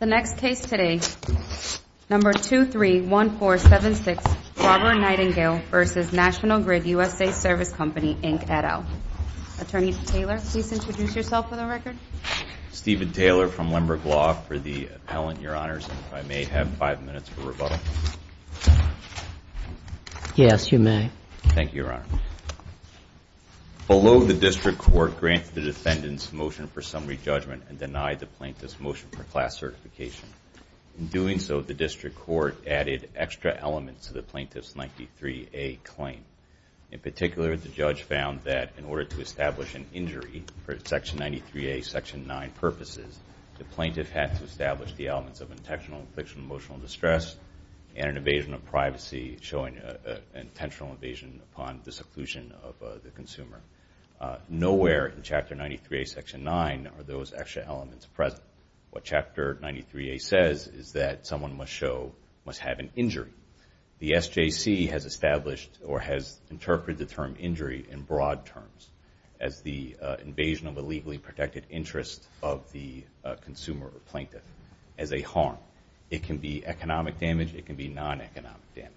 The next case today, number 231476, Robert Nightingale v. National Grid USA Service Company Inc. et al. Attorney Taylor, please introduce yourself for the record. Stephen Taylor from Lemberg Law for the appellant, Your Honors. If I may have five minutes for rebuttal. Yes, you may. Thank you, Your Honor. Below the district court, grant the defendant's motion for summary judgment and deny the plaintiff's motion for class certification. In doing so, the district court added extra elements to the plaintiff's 93A claim. In particular, the judge found that in order to establish an injury for Section 93A, Section 9 purposes, the plaintiff had to establish the elements of intentional and fictional emotional distress and an evasion of privacy showing an intentional evasion upon the seclusion of the consumer. Nowhere in Chapter 93A, Section 9 are those extra elements present. What Chapter 93A says is that someone must show, must have an injury. The SJC has established or has interpreted the term injury in broad terms as the evasion of a legally protected interest of the consumer or plaintiff as a harm. It can be economic damage, it can be non-economic damage.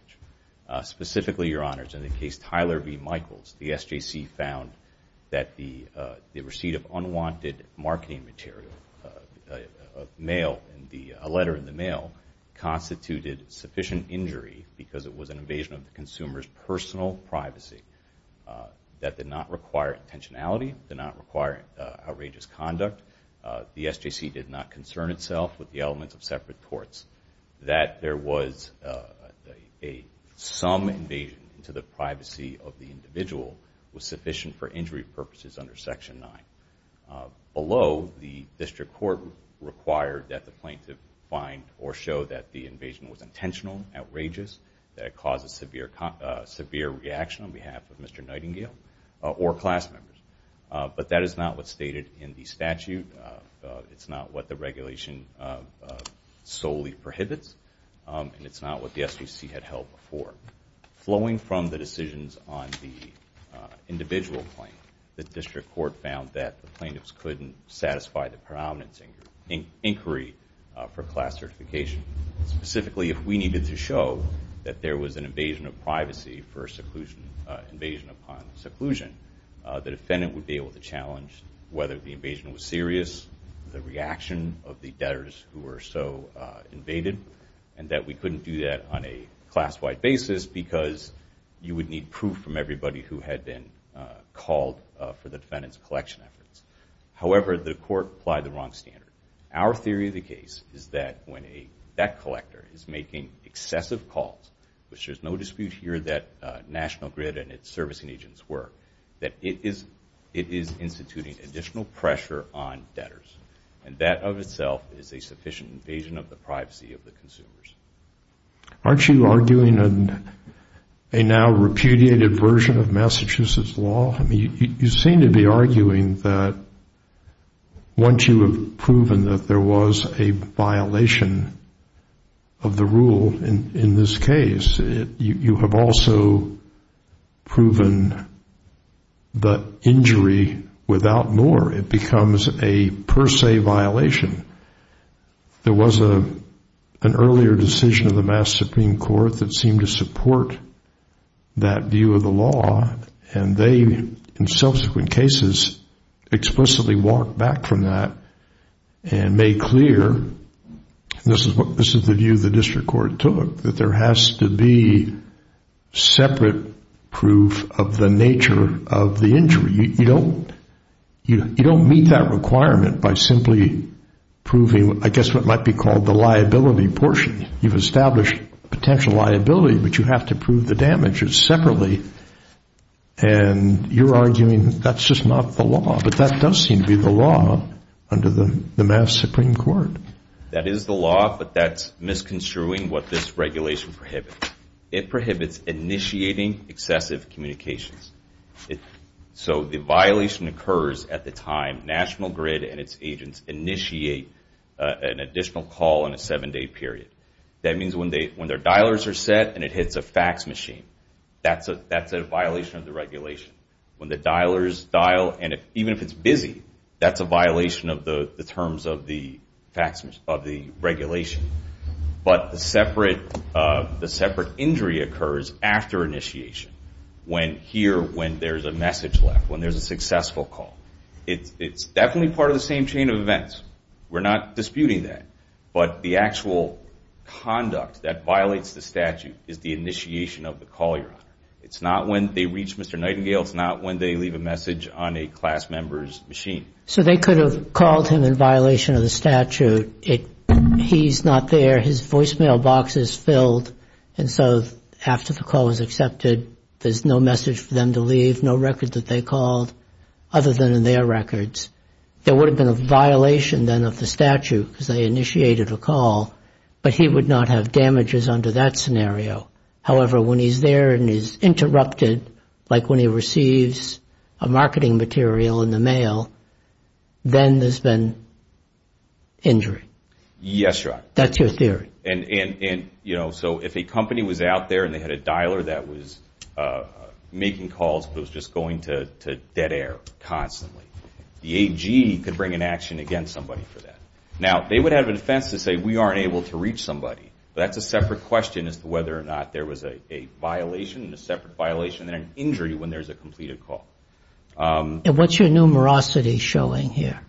Specifically, Your Honors, in the case Tyler v. Michaels, the SJC found that the receipt of unwanted marketing material, a letter in the mail, constituted sufficient injury because it was an evasion of the consumer's personal privacy. That did not require intentionality, did not require outrageous conduct. The SJC did not concern itself with the elements of separate courts. That there was some evasion to the privacy of the individual was sufficient for injury purposes under Section 9. Below, the district court required that the plaintiff find or show that the evasion was intentional, outrageous, that it caused a severe reaction on behalf of Mr. Nightingale or class members. But that is not what's stated in the statute. It's not what the regulation solely prohibits, and it's not what the SJC had held before. Flowing from the decisions on the individual claim, the district court found that the plaintiffs couldn't satisfy the predominance inquiry for class certification. Specifically, if we needed to show that there was an evasion of privacy for seclusion, evasion was serious, the reaction of the debtors who were so invaded, and that we couldn't do that on a class-wide basis because you would need proof from everybody who had been called for the defendant's collection efforts. However, the court applied the wrong standard. Our theory of the case is that when a debt collector is making excessive calls, which there's no dispute here that National Grid and its servicing agents were, that it is instituting additional pressure on debtors. And that of itself is a sufficient evasion of the privacy of the consumers. Aren't you arguing a now repudiated version of Massachusetts law? I mean, you seem to be arguing that once you have proven that there was a violation of the rule in this case, you have also proven the injury without more. It becomes a per se violation. There was an earlier decision of the Mass Supreme Court that seemed to support that view of the law, and they, in subsequent cases, explicitly walked back from that and made clear, and this is the view the district court took, that there has to be separate proof of the nature of the injury. You don't meet that requirement by simply proving, I guess, what might be called the liability portion. You've established potential liability, but you have to prove the damages separately, and you're arguing that's just not the law, but that does seem to be the law under the Supreme Court. That is the law, but that's misconstruing what this regulation prohibits. It prohibits initiating excessive communications. So the violation occurs at the time National Grid and its agents initiate an additional call in a seven-day period. That means when their dialers are set and it hits a fax machine, that's a violation of the regulation. When the dialers dial, and even if it's busy, that's a violation of the terms of the regulation. But the separate injury occurs after initiation, here when there's a message left, when there's a successful call. It's definitely part of the same chain of events. We're not disputing that, but the actual conduct that violates the statute is the initiation of the call you're on. It's not when they reach Mr. Nightingale. It's not when they leave a message on a class member's machine. So they could have called him in violation of the statute. He's not there. His voicemail box is filled, and so after the call is accepted, there's no message for them to leave, no record that they called other than in their records. There would have been a violation then of the statute because they initiated a call, but he would not have damages under that scenario. However, when he's there and he's interrupted, like when he receives a marketing material in the mail, then there's been injury. Yes, Your Honor. That's your theory. And, you know, so if a company was out there and they had a dialer that was making calls but was just going to dead air constantly, the AG could bring an action against somebody for that. Now, they would have a defense to say, we aren't able to reach somebody. That's a separate question as to whether or not there was a violation, a separate violation, and an injury when there's a completed call. And what's your numerosity showing here?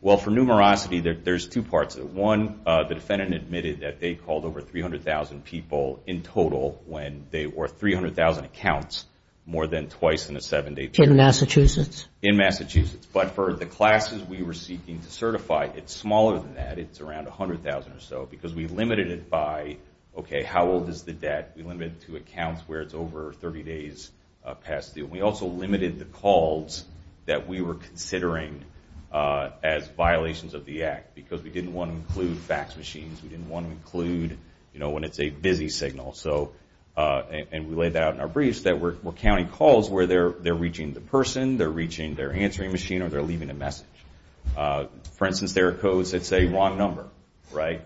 Well, for numerosity, there's two parts of it. One, the defendant admitted that they called over 300,000 people in total when they were 300,000 accounts more than twice in a seven-day period. In Massachusetts? In Massachusetts. But for the classes we were seeking to certify, it's smaller than that. It's around 100,000 or so because we limited it by, okay, how old is the debt? We limited it to accounts where it's over 30 days past due. And we also limited the calls that we were considering as violations of the act because we didn't want to include fax machines. We didn't want to include, you know, when it's a busy signal. So, and we laid that out in our briefs, that we're counting calls where they're reaching the person, they're reaching their answering machine, or they're leaving a message. For instance, there are codes that say, wrong number, right?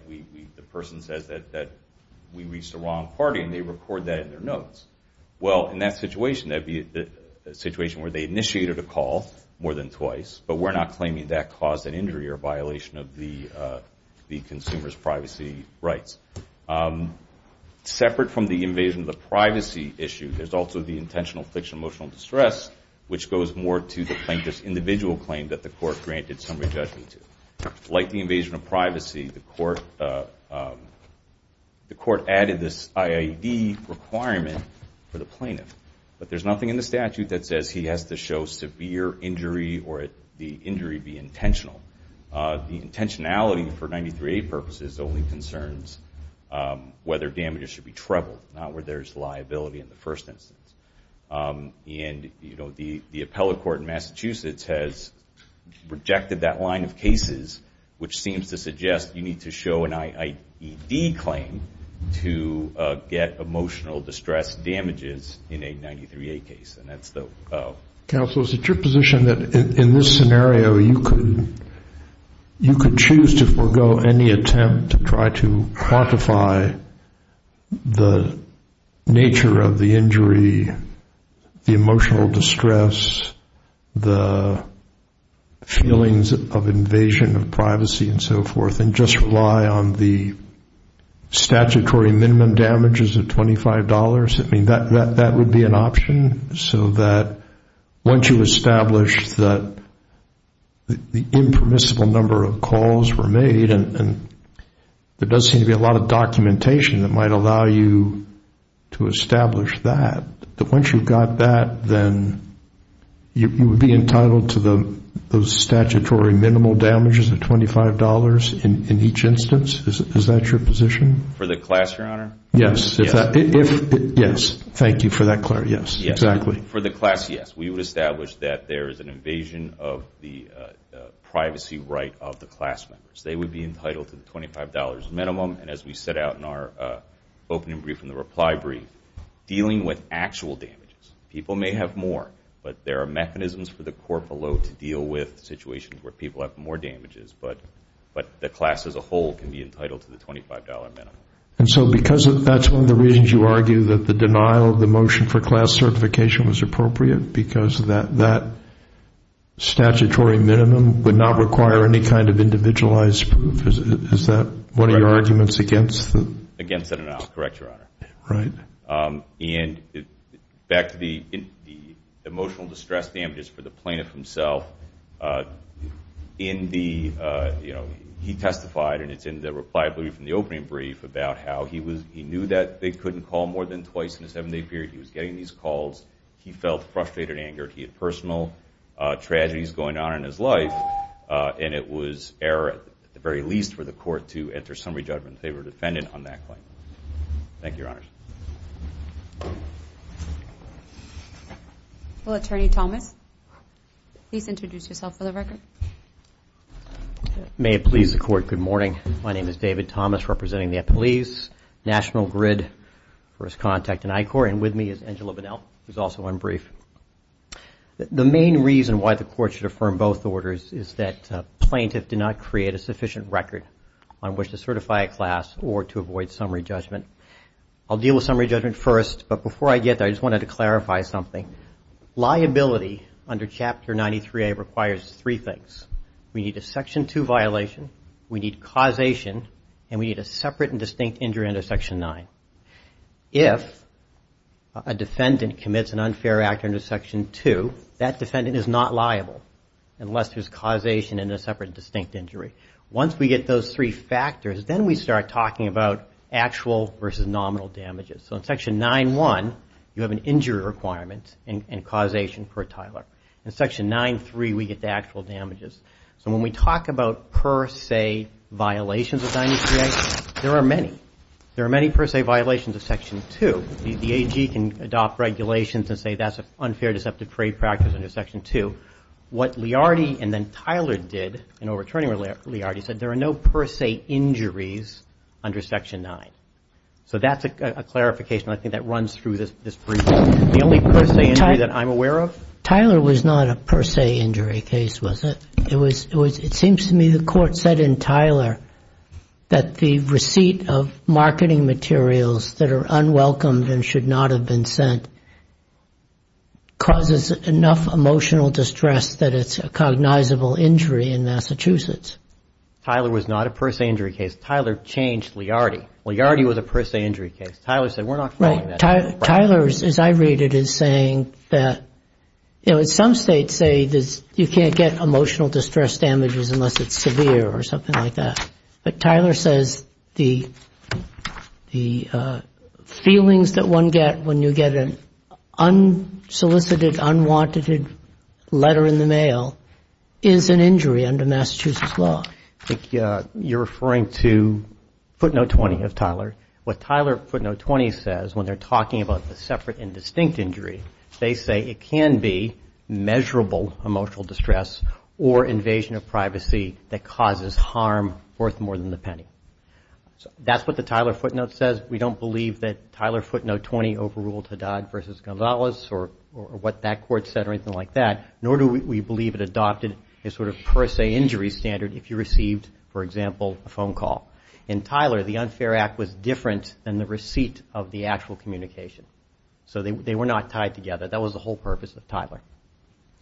The person says that we reached the wrong party, and they record that in their notes. Well, in that situation, that'd be a situation where they initiated a call more than twice, but we're not claiming that caused an injury or violation of the consumer's privacy rights. Separate from the invasion of the privacy issue, there's also the intentional fiction of emotional distress, which goes more to the plaintiff's individual claim that the court granted somebody judgment to. Like the invasion of privacy, the court added this IAED requirement for the plaintiff. But there's nothing in the statute that says he has to show severe injury or the injury be intentional. The intentionality for 93A purposes only concerns whether damages should be trebled, not where there's liability in the first instance. And the appellate court in Massachusetts has rejected that line of cases, which seems to suggest you need to show an IAED claim to get emotional distress damages in a 93A case. And that's the... Counsel, is it your position that in this scenario, you could choose to forego any attempt to try to quantify the nature of the injury, the emotional distress, the feelings of invasion of privacy and so forth, and just rely on the statutory minimum damages of $25? I mean, that would be an option? So that once you establish that the impermissible number of calls were made, and there does seem to be a lot of documentation that might allow you to establish that, that once you got that, then you would be entitled to those statutory minimal damages of $25 in each instance? Is that your position? For the class, Your Honor? Yes. Yes. Thank you for that, Clarence. Yes. Yes. Exactly. For the class, yes. We would establish that there is an invasion of the privacy right of the class members. They would be entitled to the $25 minimum, and as we set out in our opening brief in the reply brief, dealing with actual damages. People may have more, but there are mechanisms for the court below to deal with situations where people have more damages, but the class as a whole can be entitled to the $25 minimum. And so because that's one of the reasons you argue that the denial of the motion for class certification was appropriate, because of that statutory minimum would not require any kind of individualized proof, is that one of your arguments against it? Against that denial. Correct, Your Honor. Right. And back to the emotional distress damages for the plaintiff himself, in the, you know, he testified, and it's in the reply brief, in the opening brief, about how he knew that they couldn't call more than twice in a seven-day period, he was getting these calls. He felt frustrated, angered, he had personal tragedies going on in his life, and it was error, at the very least, for the court to enter summary judgment in favor of the defendant on that claim. Thank you, Your Honors. Well, Attorney Thomas, please introduce yourself for the record. May it please the Court, good morning. My name is David Thomas, representing the Appellee's National Grid for his contact in I-Corps, and with me is Angela Bunnell, who's also on brief. The main reason why the Court should affirm both orders is that plaintiff did not create a sufficient record on which to certify a class or to avoid summary judgment. I'll deal with summary judgment first, but before I get there, I just wanted to clarify something. Liability under Chapter 93A requires three things. We need a Section 2 violation, we need causation, and we need a separate and distinct injury under Section 9. If a defendant commits an unfair act under Section 2, that defendant is not liable unless there's causation and a separate and distinct injury. Once we get those three factors, then we start talking about actual versus nominal damages. So in Section 9-1, you have an injury requirement and causation per Tyler. In Section 9-3, we get the actual damages. So when we talk about per se violations of 93A, there are many. There are many per se violations of Section 2. The AG can adopt regulations and say that's an unfair deceptive prey practice under Section 2. What Liardi and then Tyler did in overturning Liardi said there are no per se injuries under Section 9. So that's a clarification. I think that runs through this briefing. The only per se injury that I'm aware of. Tyler was not a per se injury case, was it? It seems to me the court said in Tyler that the receipt of marketing materials that are unwelcomed and should not have been sent causes enough emotional distress that it's a cognizable injury in Massachusetts. Tyler was not a per se injury case. Tyler changed Liardi. Liardi was a per se injury case. Tyler said we're not calling that. Tyler, as I read it, is saying that some states say you can't get emotional distress damages unless it's severe or something like that. But Tyler says the feelings that one gets when you get an unsolicited, unwanted letter in the mail is an injury under Massachusetts law. I think you're referring to footnote 20 of Tyler. What Tyler footnote 20 says when they're talking about the separate and distinct injury, they say it can be measurable emotional distress or invasion of privacy that causes harm worth more than the penny. That's what the Tyler footnote says. We don't believe that Tyler footnote 20 overruled Haddad versus Gonzalez or what that court said or anything like that, nor do we believe it adopted a sort of per se injury standard if you received, for example, a phone call. In Tyler, the Unfair Act was different than the receipt of the actual communication. So they were not tied together. That was the whole purpose of Tyler.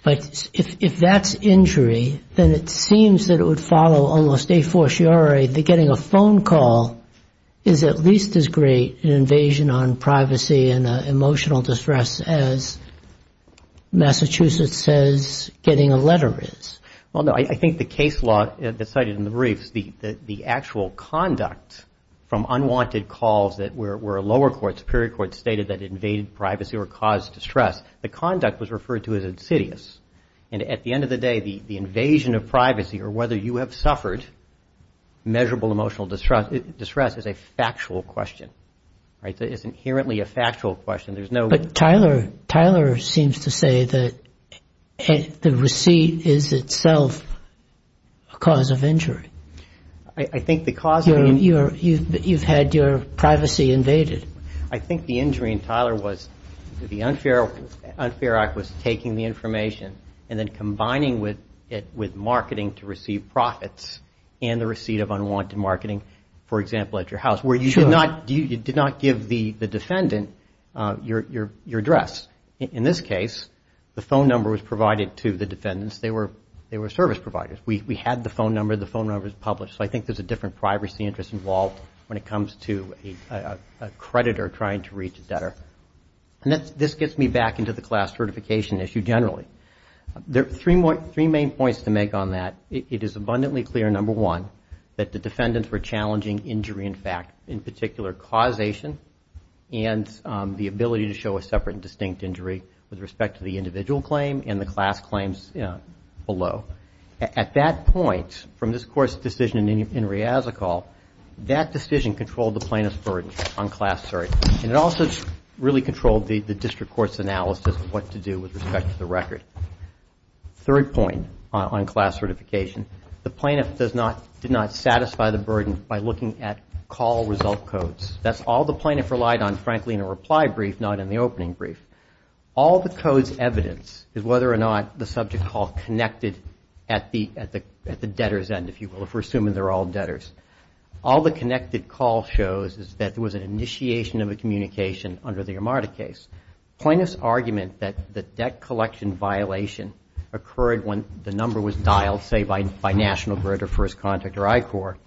But if that's injury, then it seems that it would follow almost a fortiori that getting a phone call is at least as great an invasion on privacy and emotional distress as Massachusetts says getting a letter is. Well, no, I think the case law that's cited in the briefs, the actual conduct from unwanted calls that were lower courts, superior courts stated that invaded privacy or caused distress, the conduct was referred to as insidious. And at the end of the day, the invasion of privacy or whether you have suffered measurable emotional distress is a factual question, right? It's inherently a factual question. There's no... Tyler seems to say that the receipt is itself a cause of injury. I think the cause of... You've had your privacy invaded. I think the injury in Tyler was the Unfair Act was taking the information and then combining with marketing to receive profits and the receipt of unwanted marketing, for example, at your house. Sure. Where you did not give the defendant your address. In this case, the phone number was provided to the defendants. They were service providers. We had the phone number. The phone number was published. So I think there's a different privacy interest involved when it comes to a creditor trying to reach a debtor. This gets me back into the class certification issue generally. Three main points to make on that. It is abundantly clear, number one, that the defendants were challenging injury in fact, in particular, causation and the ability to show a separate and distinct injury with respect to the individual claim and the class claims below. At that point, from this Court's decision in Riazacal, that decision controlled the plaintiff's burden on class cert, and it also really controlled the district court's analysis of what to do with respect to the record. Third point on class certification. The plaintiff did not satisfy the burden by looking at call result codes. That's all the plaintiff relied on, frankly, in a reply brief, not in the opening brief. All the code's evidence is whether or not the subject call connected at the debtor's end, if you will, if we're assuming they're all debtors. All the connected call shows is that there was an initiation of a communication under the Amarda case. Plaintiff's argument that the debt collection violation occurred when the number was dialed, say by National Grid or First Contact or I-Corps,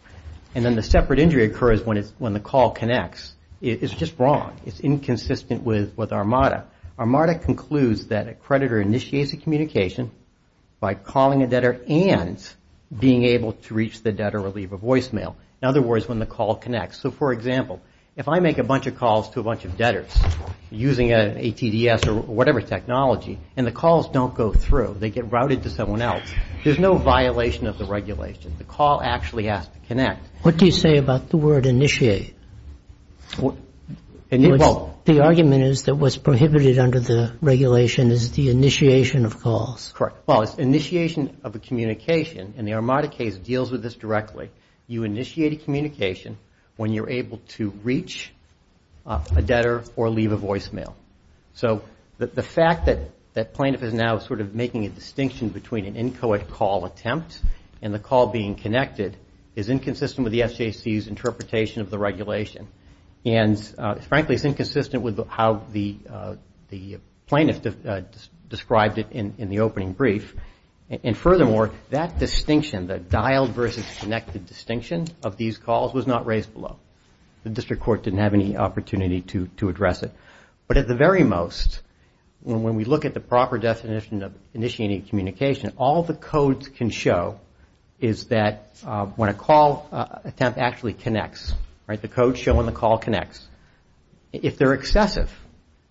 and then the separate injury occurs when the call connects is just wrong. It's inconsistent with Armada. Armada concludes that a creditor initiates a communication by calling a debtor and being able to reach the debtor or leave a voicemail. In other words, when the call connects. So, for example, if I make a bunch of calls to a bunch of debtors using an ATDS or whatever technology and the calls don't go through, they get routed to someone else, there's no violation of the regulation. The call actually has to connect. What do you say about the word initiate? The argument is that what's prohibited under the regulation is the initiation of calls. Correct. Well, it's initiation of a communication, and the Armada case deals with this directly. You initiate a communication when you're able to reach a debtor or leave a voicemail. So the fact that plaintiff is now sort of making a distinction between an inchoate call attempt and the call being connected is inconsistent with the SJC's interpretation of the regulation, and frankly, it's inconsistent with how the plaintiff described it in the opening brief, and furthermore, that distinction, that dialed versus connected distinction of these calls was not raised below. The district court didn't have any opportunity to address it. But at the very most, when we look at the proper definition of initiating a communication, all the codes can show is that when a call attempt actually connects, right, the code showing the call connects, if they're excessive,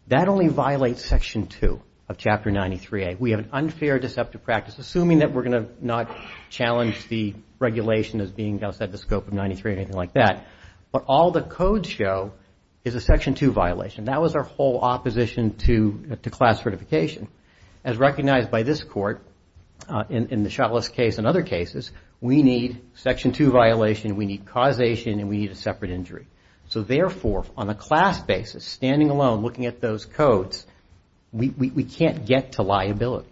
that only violates Section 2 of Chapter 93A. We have an unfair deceptive practice, assuming that we're going to not challenge the regulation as being outside the scope of 93 or anything like that, but all the codes show is a Section 2 violation. That was our whole opposition to class certification. As recognized by this court in the Shuttless case and other cases, we need Section 2 violation, we need causation, and we need a separate injury. So therefore, on a class basis, standing alone, looking at those codes, we can't get to liability.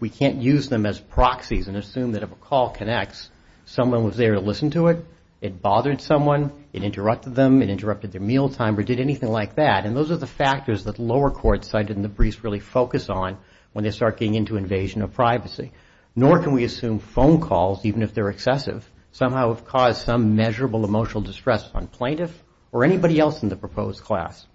We can't use them as proxies and assume that if a call connects, someone was there to listen to it, it bothered someone, it interrupted them, it interrupted their mealtime, or did anything like that. And those are the factors that lower court cited in the briefs really focus on when they start getting into invasion of privacy. Nor can we assume phone calls, even if they're excessive, somehow have caused some measurable emotional distress on plaintiff or anybody else in the proposed class.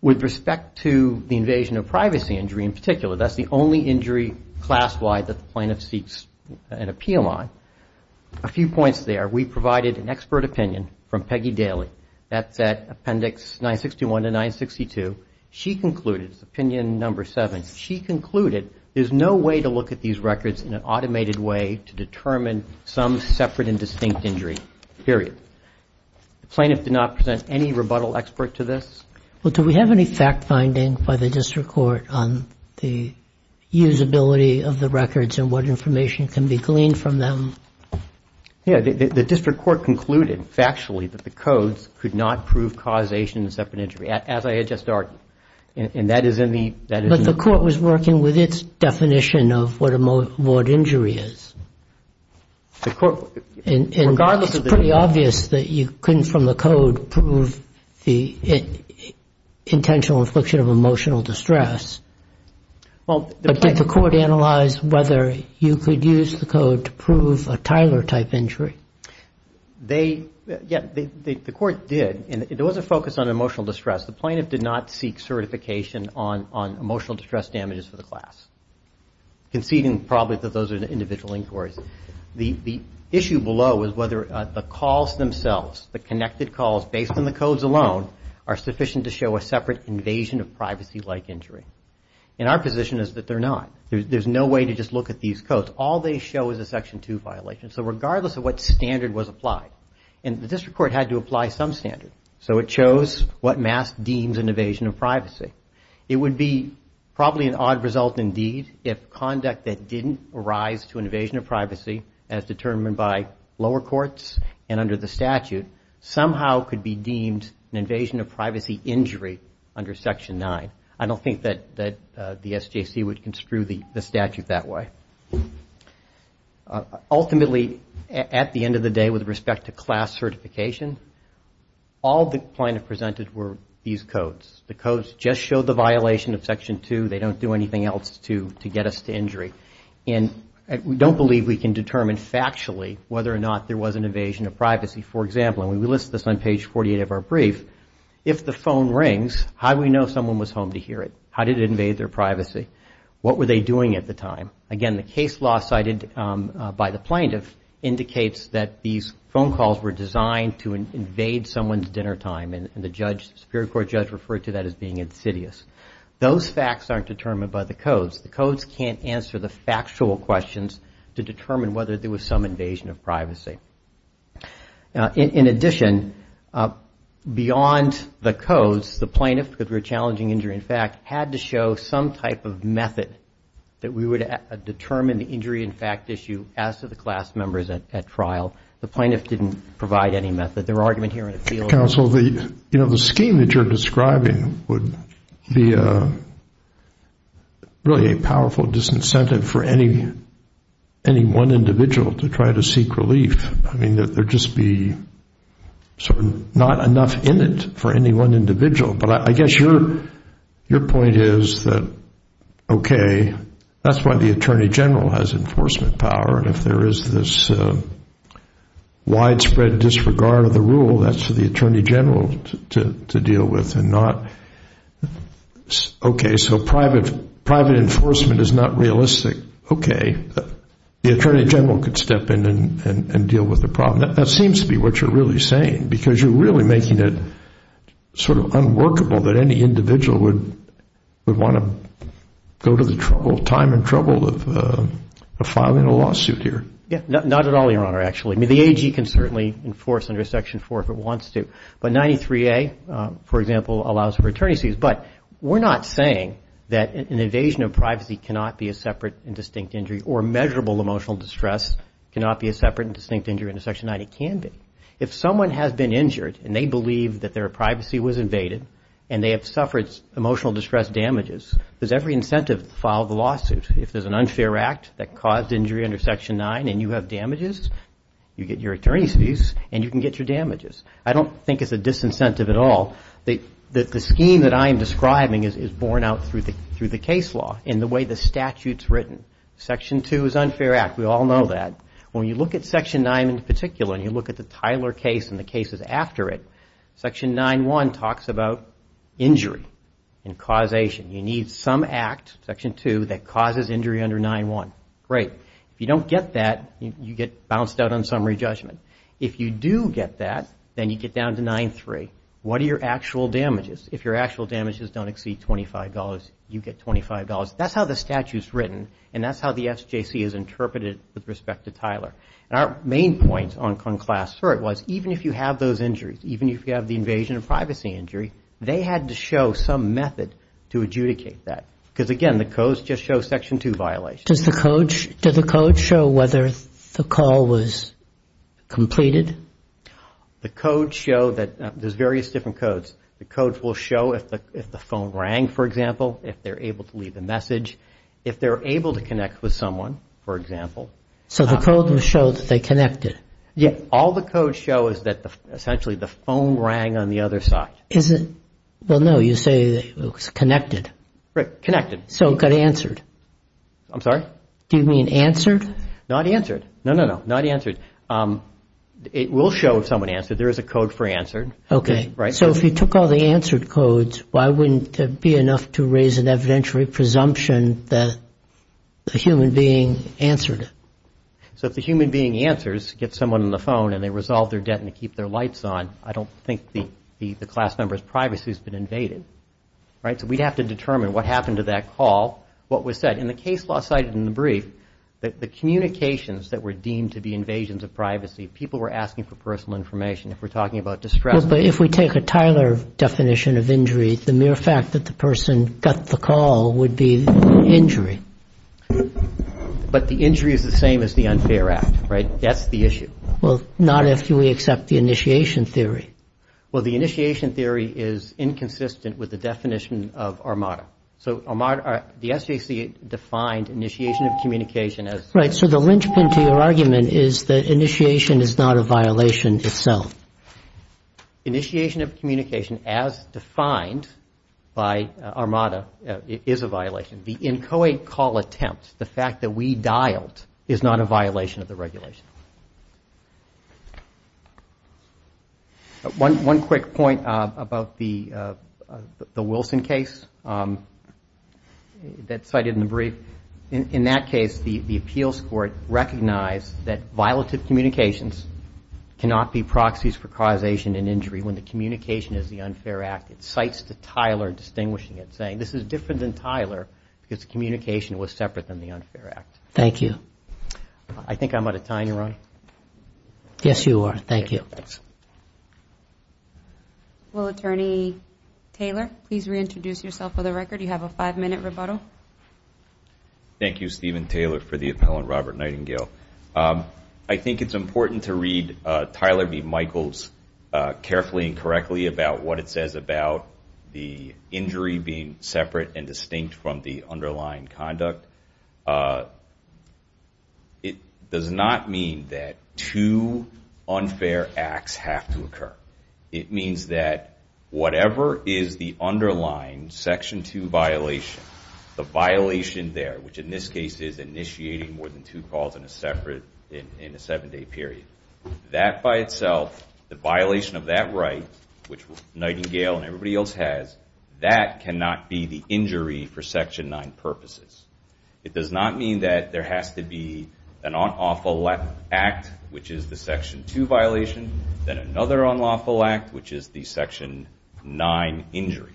With respect to the invasion of privacy injury in particular, that's the only injury class-wide that the plaintiff seeks an appeal on, a few points there. We provided an expert opinion from Peggy Daly, that's at Appendix 961 to 962. She concluded, it's Opinion Number 7, she concluded there's no way to look at these periods. The plaintiff did not present any rebuttal expert to this. Well, do we have any fact-finding by the District Court on the usability of the records and what information can be gleaned from them? Yeah. The District Court concluded, factually, that the codes could not prove causation of separate injury, as I had just argued. And that is in the... But the court was working with its definition of what a mode of injury is. The court... And it's pretty obvious that you couldn't, from the code, prove the intentional infliction of emotional distress, but did the court analyze whether you could use the code to prove a Tyler-type injury? They... Yeah, the court did, and it was a focus on emotional distress. The plaintiff did not seek certification on emotional distress damages for the class, conceding, probably, that those are individual inquiries. The issue below is whether the calls themselves, the connected calls based on the codes alone, are sufficient to show a separate invasion of privacy-like injury. And our position is that they're not. There's no way to just look at these codes. All they show is a Section 2 violation. So regardless of what standard was applied, and the District Court had to apply some standard, so it chose what MAS deems an evasion of privacy. It would be probably an odd result, indeed, if conduct that didn't arise to an evasion of privacy, as determined by lower courts and under the statute, somehow could be deemed an evasion of privacy injury under Section 9. I don't think that the SJC would construe the statute that way. Ultimately, at the end of the day, with respect to class certification, all the plaintiff presented were these codes. The codes just show the violation of Section 2. They don't do anything else to get us to injury. And we don't believe we can determine factually whether or not there was an evasion of privacy. For example, and we list this on page 48 of our brief, if the phone rings, how do we know someone was home to hear it? How did it invade their privacy? What were they doing at the time? Again, the case law cited by the plaintiff indicates that these phone calls were designed to invade someone's dinner time, and the Superior Court judge referred to that as being insidious. Those facts aren't determined by the codes. The codes can't answer the factual questions to determine whether there was some invasion of privacy. In addition, beyond the codes, the plaintiff, because we're challenging injury in fact, had to show some type of method that we would determine the injury in fact issue as to the class members at trial. The plaintiff didn't provide any method. Their argument here in the field- Counsel, you know, the scheme that you're describing would be really a powerful disincentive for any one individual to try to seek relief. I mean, there'd just be not enough in it for any one individual. But I guess your point is that, okay, that's why the Attorney General has enforcement power, and if there is this widespread disregard of the rule, that's for the Attorney General to deal with and not- Okay, so private enforcement is not realistic. Okay, the Attorney General could step in and deal with the problem. That seems to be what you're really saying, because you're really making it sort of unworkable that any individual would want to go to the trouble, time and trouble of filing a lawsuit here. Yeah, not at all, Your Honor, actually. I mean, the AG can certainly enforce under Section 4 if it wants to, but 93A, for example, allows for attorney's fees. But we're not saying that an invasion of privacy cannot be a separate and distinct injury, or measurable emotional distress cannot be a separate and distinct injury under Section 90. It can be. If someone has been injured and they believe that their privacy was invaded and they have suffered emotional distress damages, does every incentive to file the lawsuit? If there's an unfair act that caused injury under Section 9 and you have damages, you get your attorney's fees and you can get your damages. I don't think it's a disincentive at all. The scheme that I am describing is borne out through the case law in the way the statute's written. Section 2 is unfair act. We all know that. When you look at Section 9 in particular and you look at the Tyler case and the cases after it, Section 9.1 talks about injury and causation. You need some act, Section 2, that causes injury under 9.1. Great. If you don't get that, you get bounced out on summary judgment. If you do get that, then you get down to 9.3. What are your actual damages? If your actual damages don't exceed $25, you get $25. That's how the statute's written and that's how the SJC has interpreted it with respect to Tyler. Our main point on class cert was even if you have those injuries, even if you have the invasion of privacy injury, they had to show some method to adjudicate that because again, the codes just show Section 2 violations. Do the codes show whether the call was completed? The codes show that there's various different codes. The codes will show if the phone rang, for example, if they're able to leave a message, if they're able to connect with someone, for example. So the codes will show that they connected? All the codes show is that essentially the phone rang on the other side. Is it? Well, no. You say it was connected. Right. Connected. So it got answered. I'm sorry? Do you mean answered? Not answered. No, no, no. Not answered. It will show if someone answered. There is a code for answered. Okay. So if you took all the answered codes, why wouldn't it be enough to raise an evidentiary presumption that the human being answered it? So if the human being answers, gets someone on the phone, and they resolve their debt and they keep their lights on, I don't think the class member's privacy has been invaded. Right? So we'd have to determine what happened to that call, what was said. And the case law cited in the brief that the communications that were deemed to be invasions of privacy, people were asking for personal information. If we're talking about distress. Well, but if we take a Tyler definition of injury, the mere fact that the person got the call would be injury. But the injury is the same as the unfair act. Right? That's the issue. Well, not if we accept the initiation theory. Well, the initiation theory is inconsistent with the definition of armada. So armada, the SJC defined initiation of communication as... Right. So the linchpin to your argument is that initiation is not a violation itself. Initiation of communication as defined by armada is a violation. The inchoate call attempt, the fact that we dialed, is not a violation of the regulation. One quick point about the Wilson case that's cited in the brief. In that case, the appeals court recognized that violative communications cannot be proxies for causation and injury when the communication is the unfair act. It cites the Tyler distinguishing it, saying this is different than Tyler because the communication was separate than the unfair act. Thank you. I think I'm out of time, Your Honor. Yes, you are. Thank you. Thanks. Well, Attorney Taylor, please reintroduce yourself for the record. You have a five-minute rebuttal. Thank you, Stephen Taylor, for the appellant, Robert Nightingale. I think it's important to read Tyler v. Michaels carefully and correctly about what it says about the injury being separate and distinct from the underlying conduct. It does not mean that two unfair acts have to occur. It means that whatever is the underlying Section 2 violation, the violation there, which in this case is initiating more than two calls in a seven-day period, that by itself, the violation of that right, which Nightingale and everybody else has, that cannot be the injury for Section 9 purposes. It does not mean that there has to be an unlawful act, which is the Section 2 violation, then another unlawful act, which is the Section 9 injury.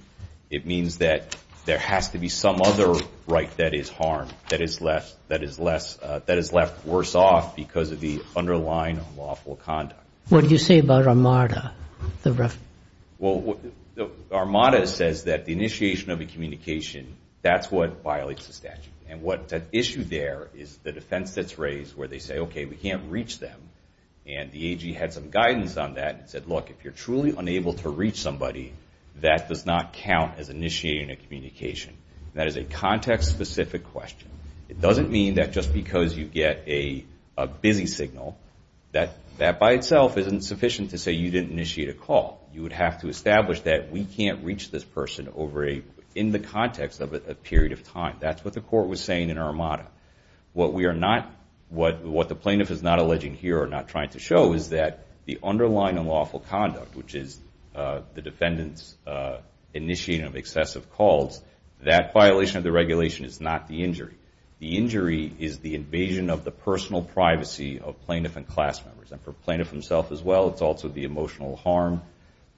It means that there has to be some other right that is harmed, that is left worse off because of the underlying unlawful conduct. What do you say about Armada? Well, Armada says that the initiation of a communication, that's what violates the statute. And what's at issue there is the defense that's raised where they say, okay, we can't reach them, and the AG had some guidance on that and said, look, if you're truly unable to reach somebody, that does not count as initiating a communication. That is a context-specific question. It doesn't mean that just because you get a busy signal, that by itself isn't sufficient to say you didn't initiate a call. You would have to establish that we can't reach this person in the context of a period of time. That's what the court was saying in Armada. What we are not, what the plaintiff is not alleging here or not trying to show is that the underlying unlawful conduct, which is the defendant's initiation of excessive calls, that violation of the regulation is not the injury. The injury is the invasion of the personal privacy of plaintiff and class members. And for plaintiff himself as well, it's also the emotional harm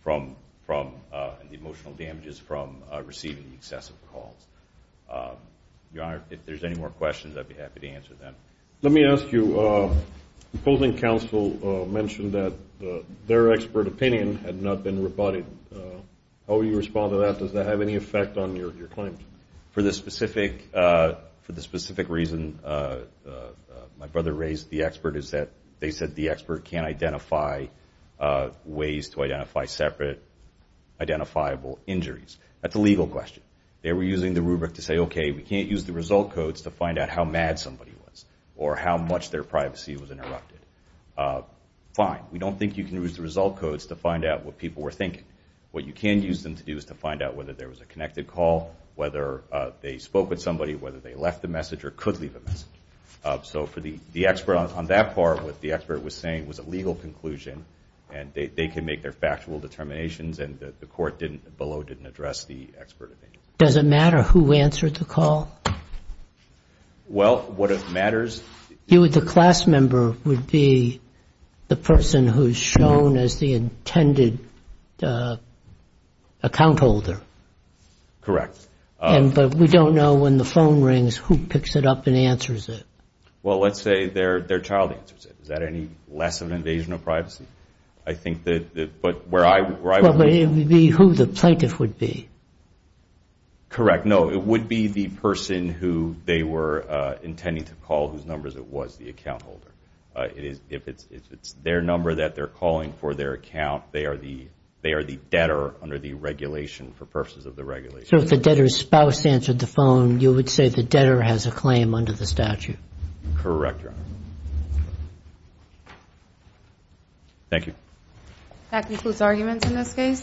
from, the emotional damages from receiving excessive calls. Your Honor, if there's any more questions, I'd be happy to answer them. Let me ask you, opposing counsel mentioned that their expert opinion had not been rebutted. How would you respond to that? Does that have any effect on your claims? For the specific, for the specific reason my brother raised, the expert is that, they said the expert can't identify ways to identify separate identifiable injuries. That's a legal question. They were using the rubric to say, okay, we can't use the result codes to find out how mad somebody was, or how much their privacy was interrupted. Fine, we don't think you can use the result codes to find out what people were thinking. What you can use them to do is to find out whether there was a connected call, whether they spoke with somebody, whether they left a message or could leave a message. So for the expert on that part, what the expert was saying was a legal conclusion. And they can make their factual determinations and the court below didn't address the expert opinion. Does it matter who answered the call? Well, what matters... You would, the class member would be the person who's shown as the intended account holder. Correct. And, but we don't know when the phone rings, who picks it up and answers it. Well, let's say their child answers it. Is that any less of an invasion of privacy? I think that, but where I... It would be who the plaintiff would be. Correct. No, it would be the person who they were intending to call, whose numbers it was, the account holder. If it's their number that they're calling for their account, they are the debtor under the regulation for purposes of the regulation. So if the debtor's spouse answered the phone, you would say the debtor has a claim under the statute. Correct, Your Honor. Thank you. That concludes arguments in this case.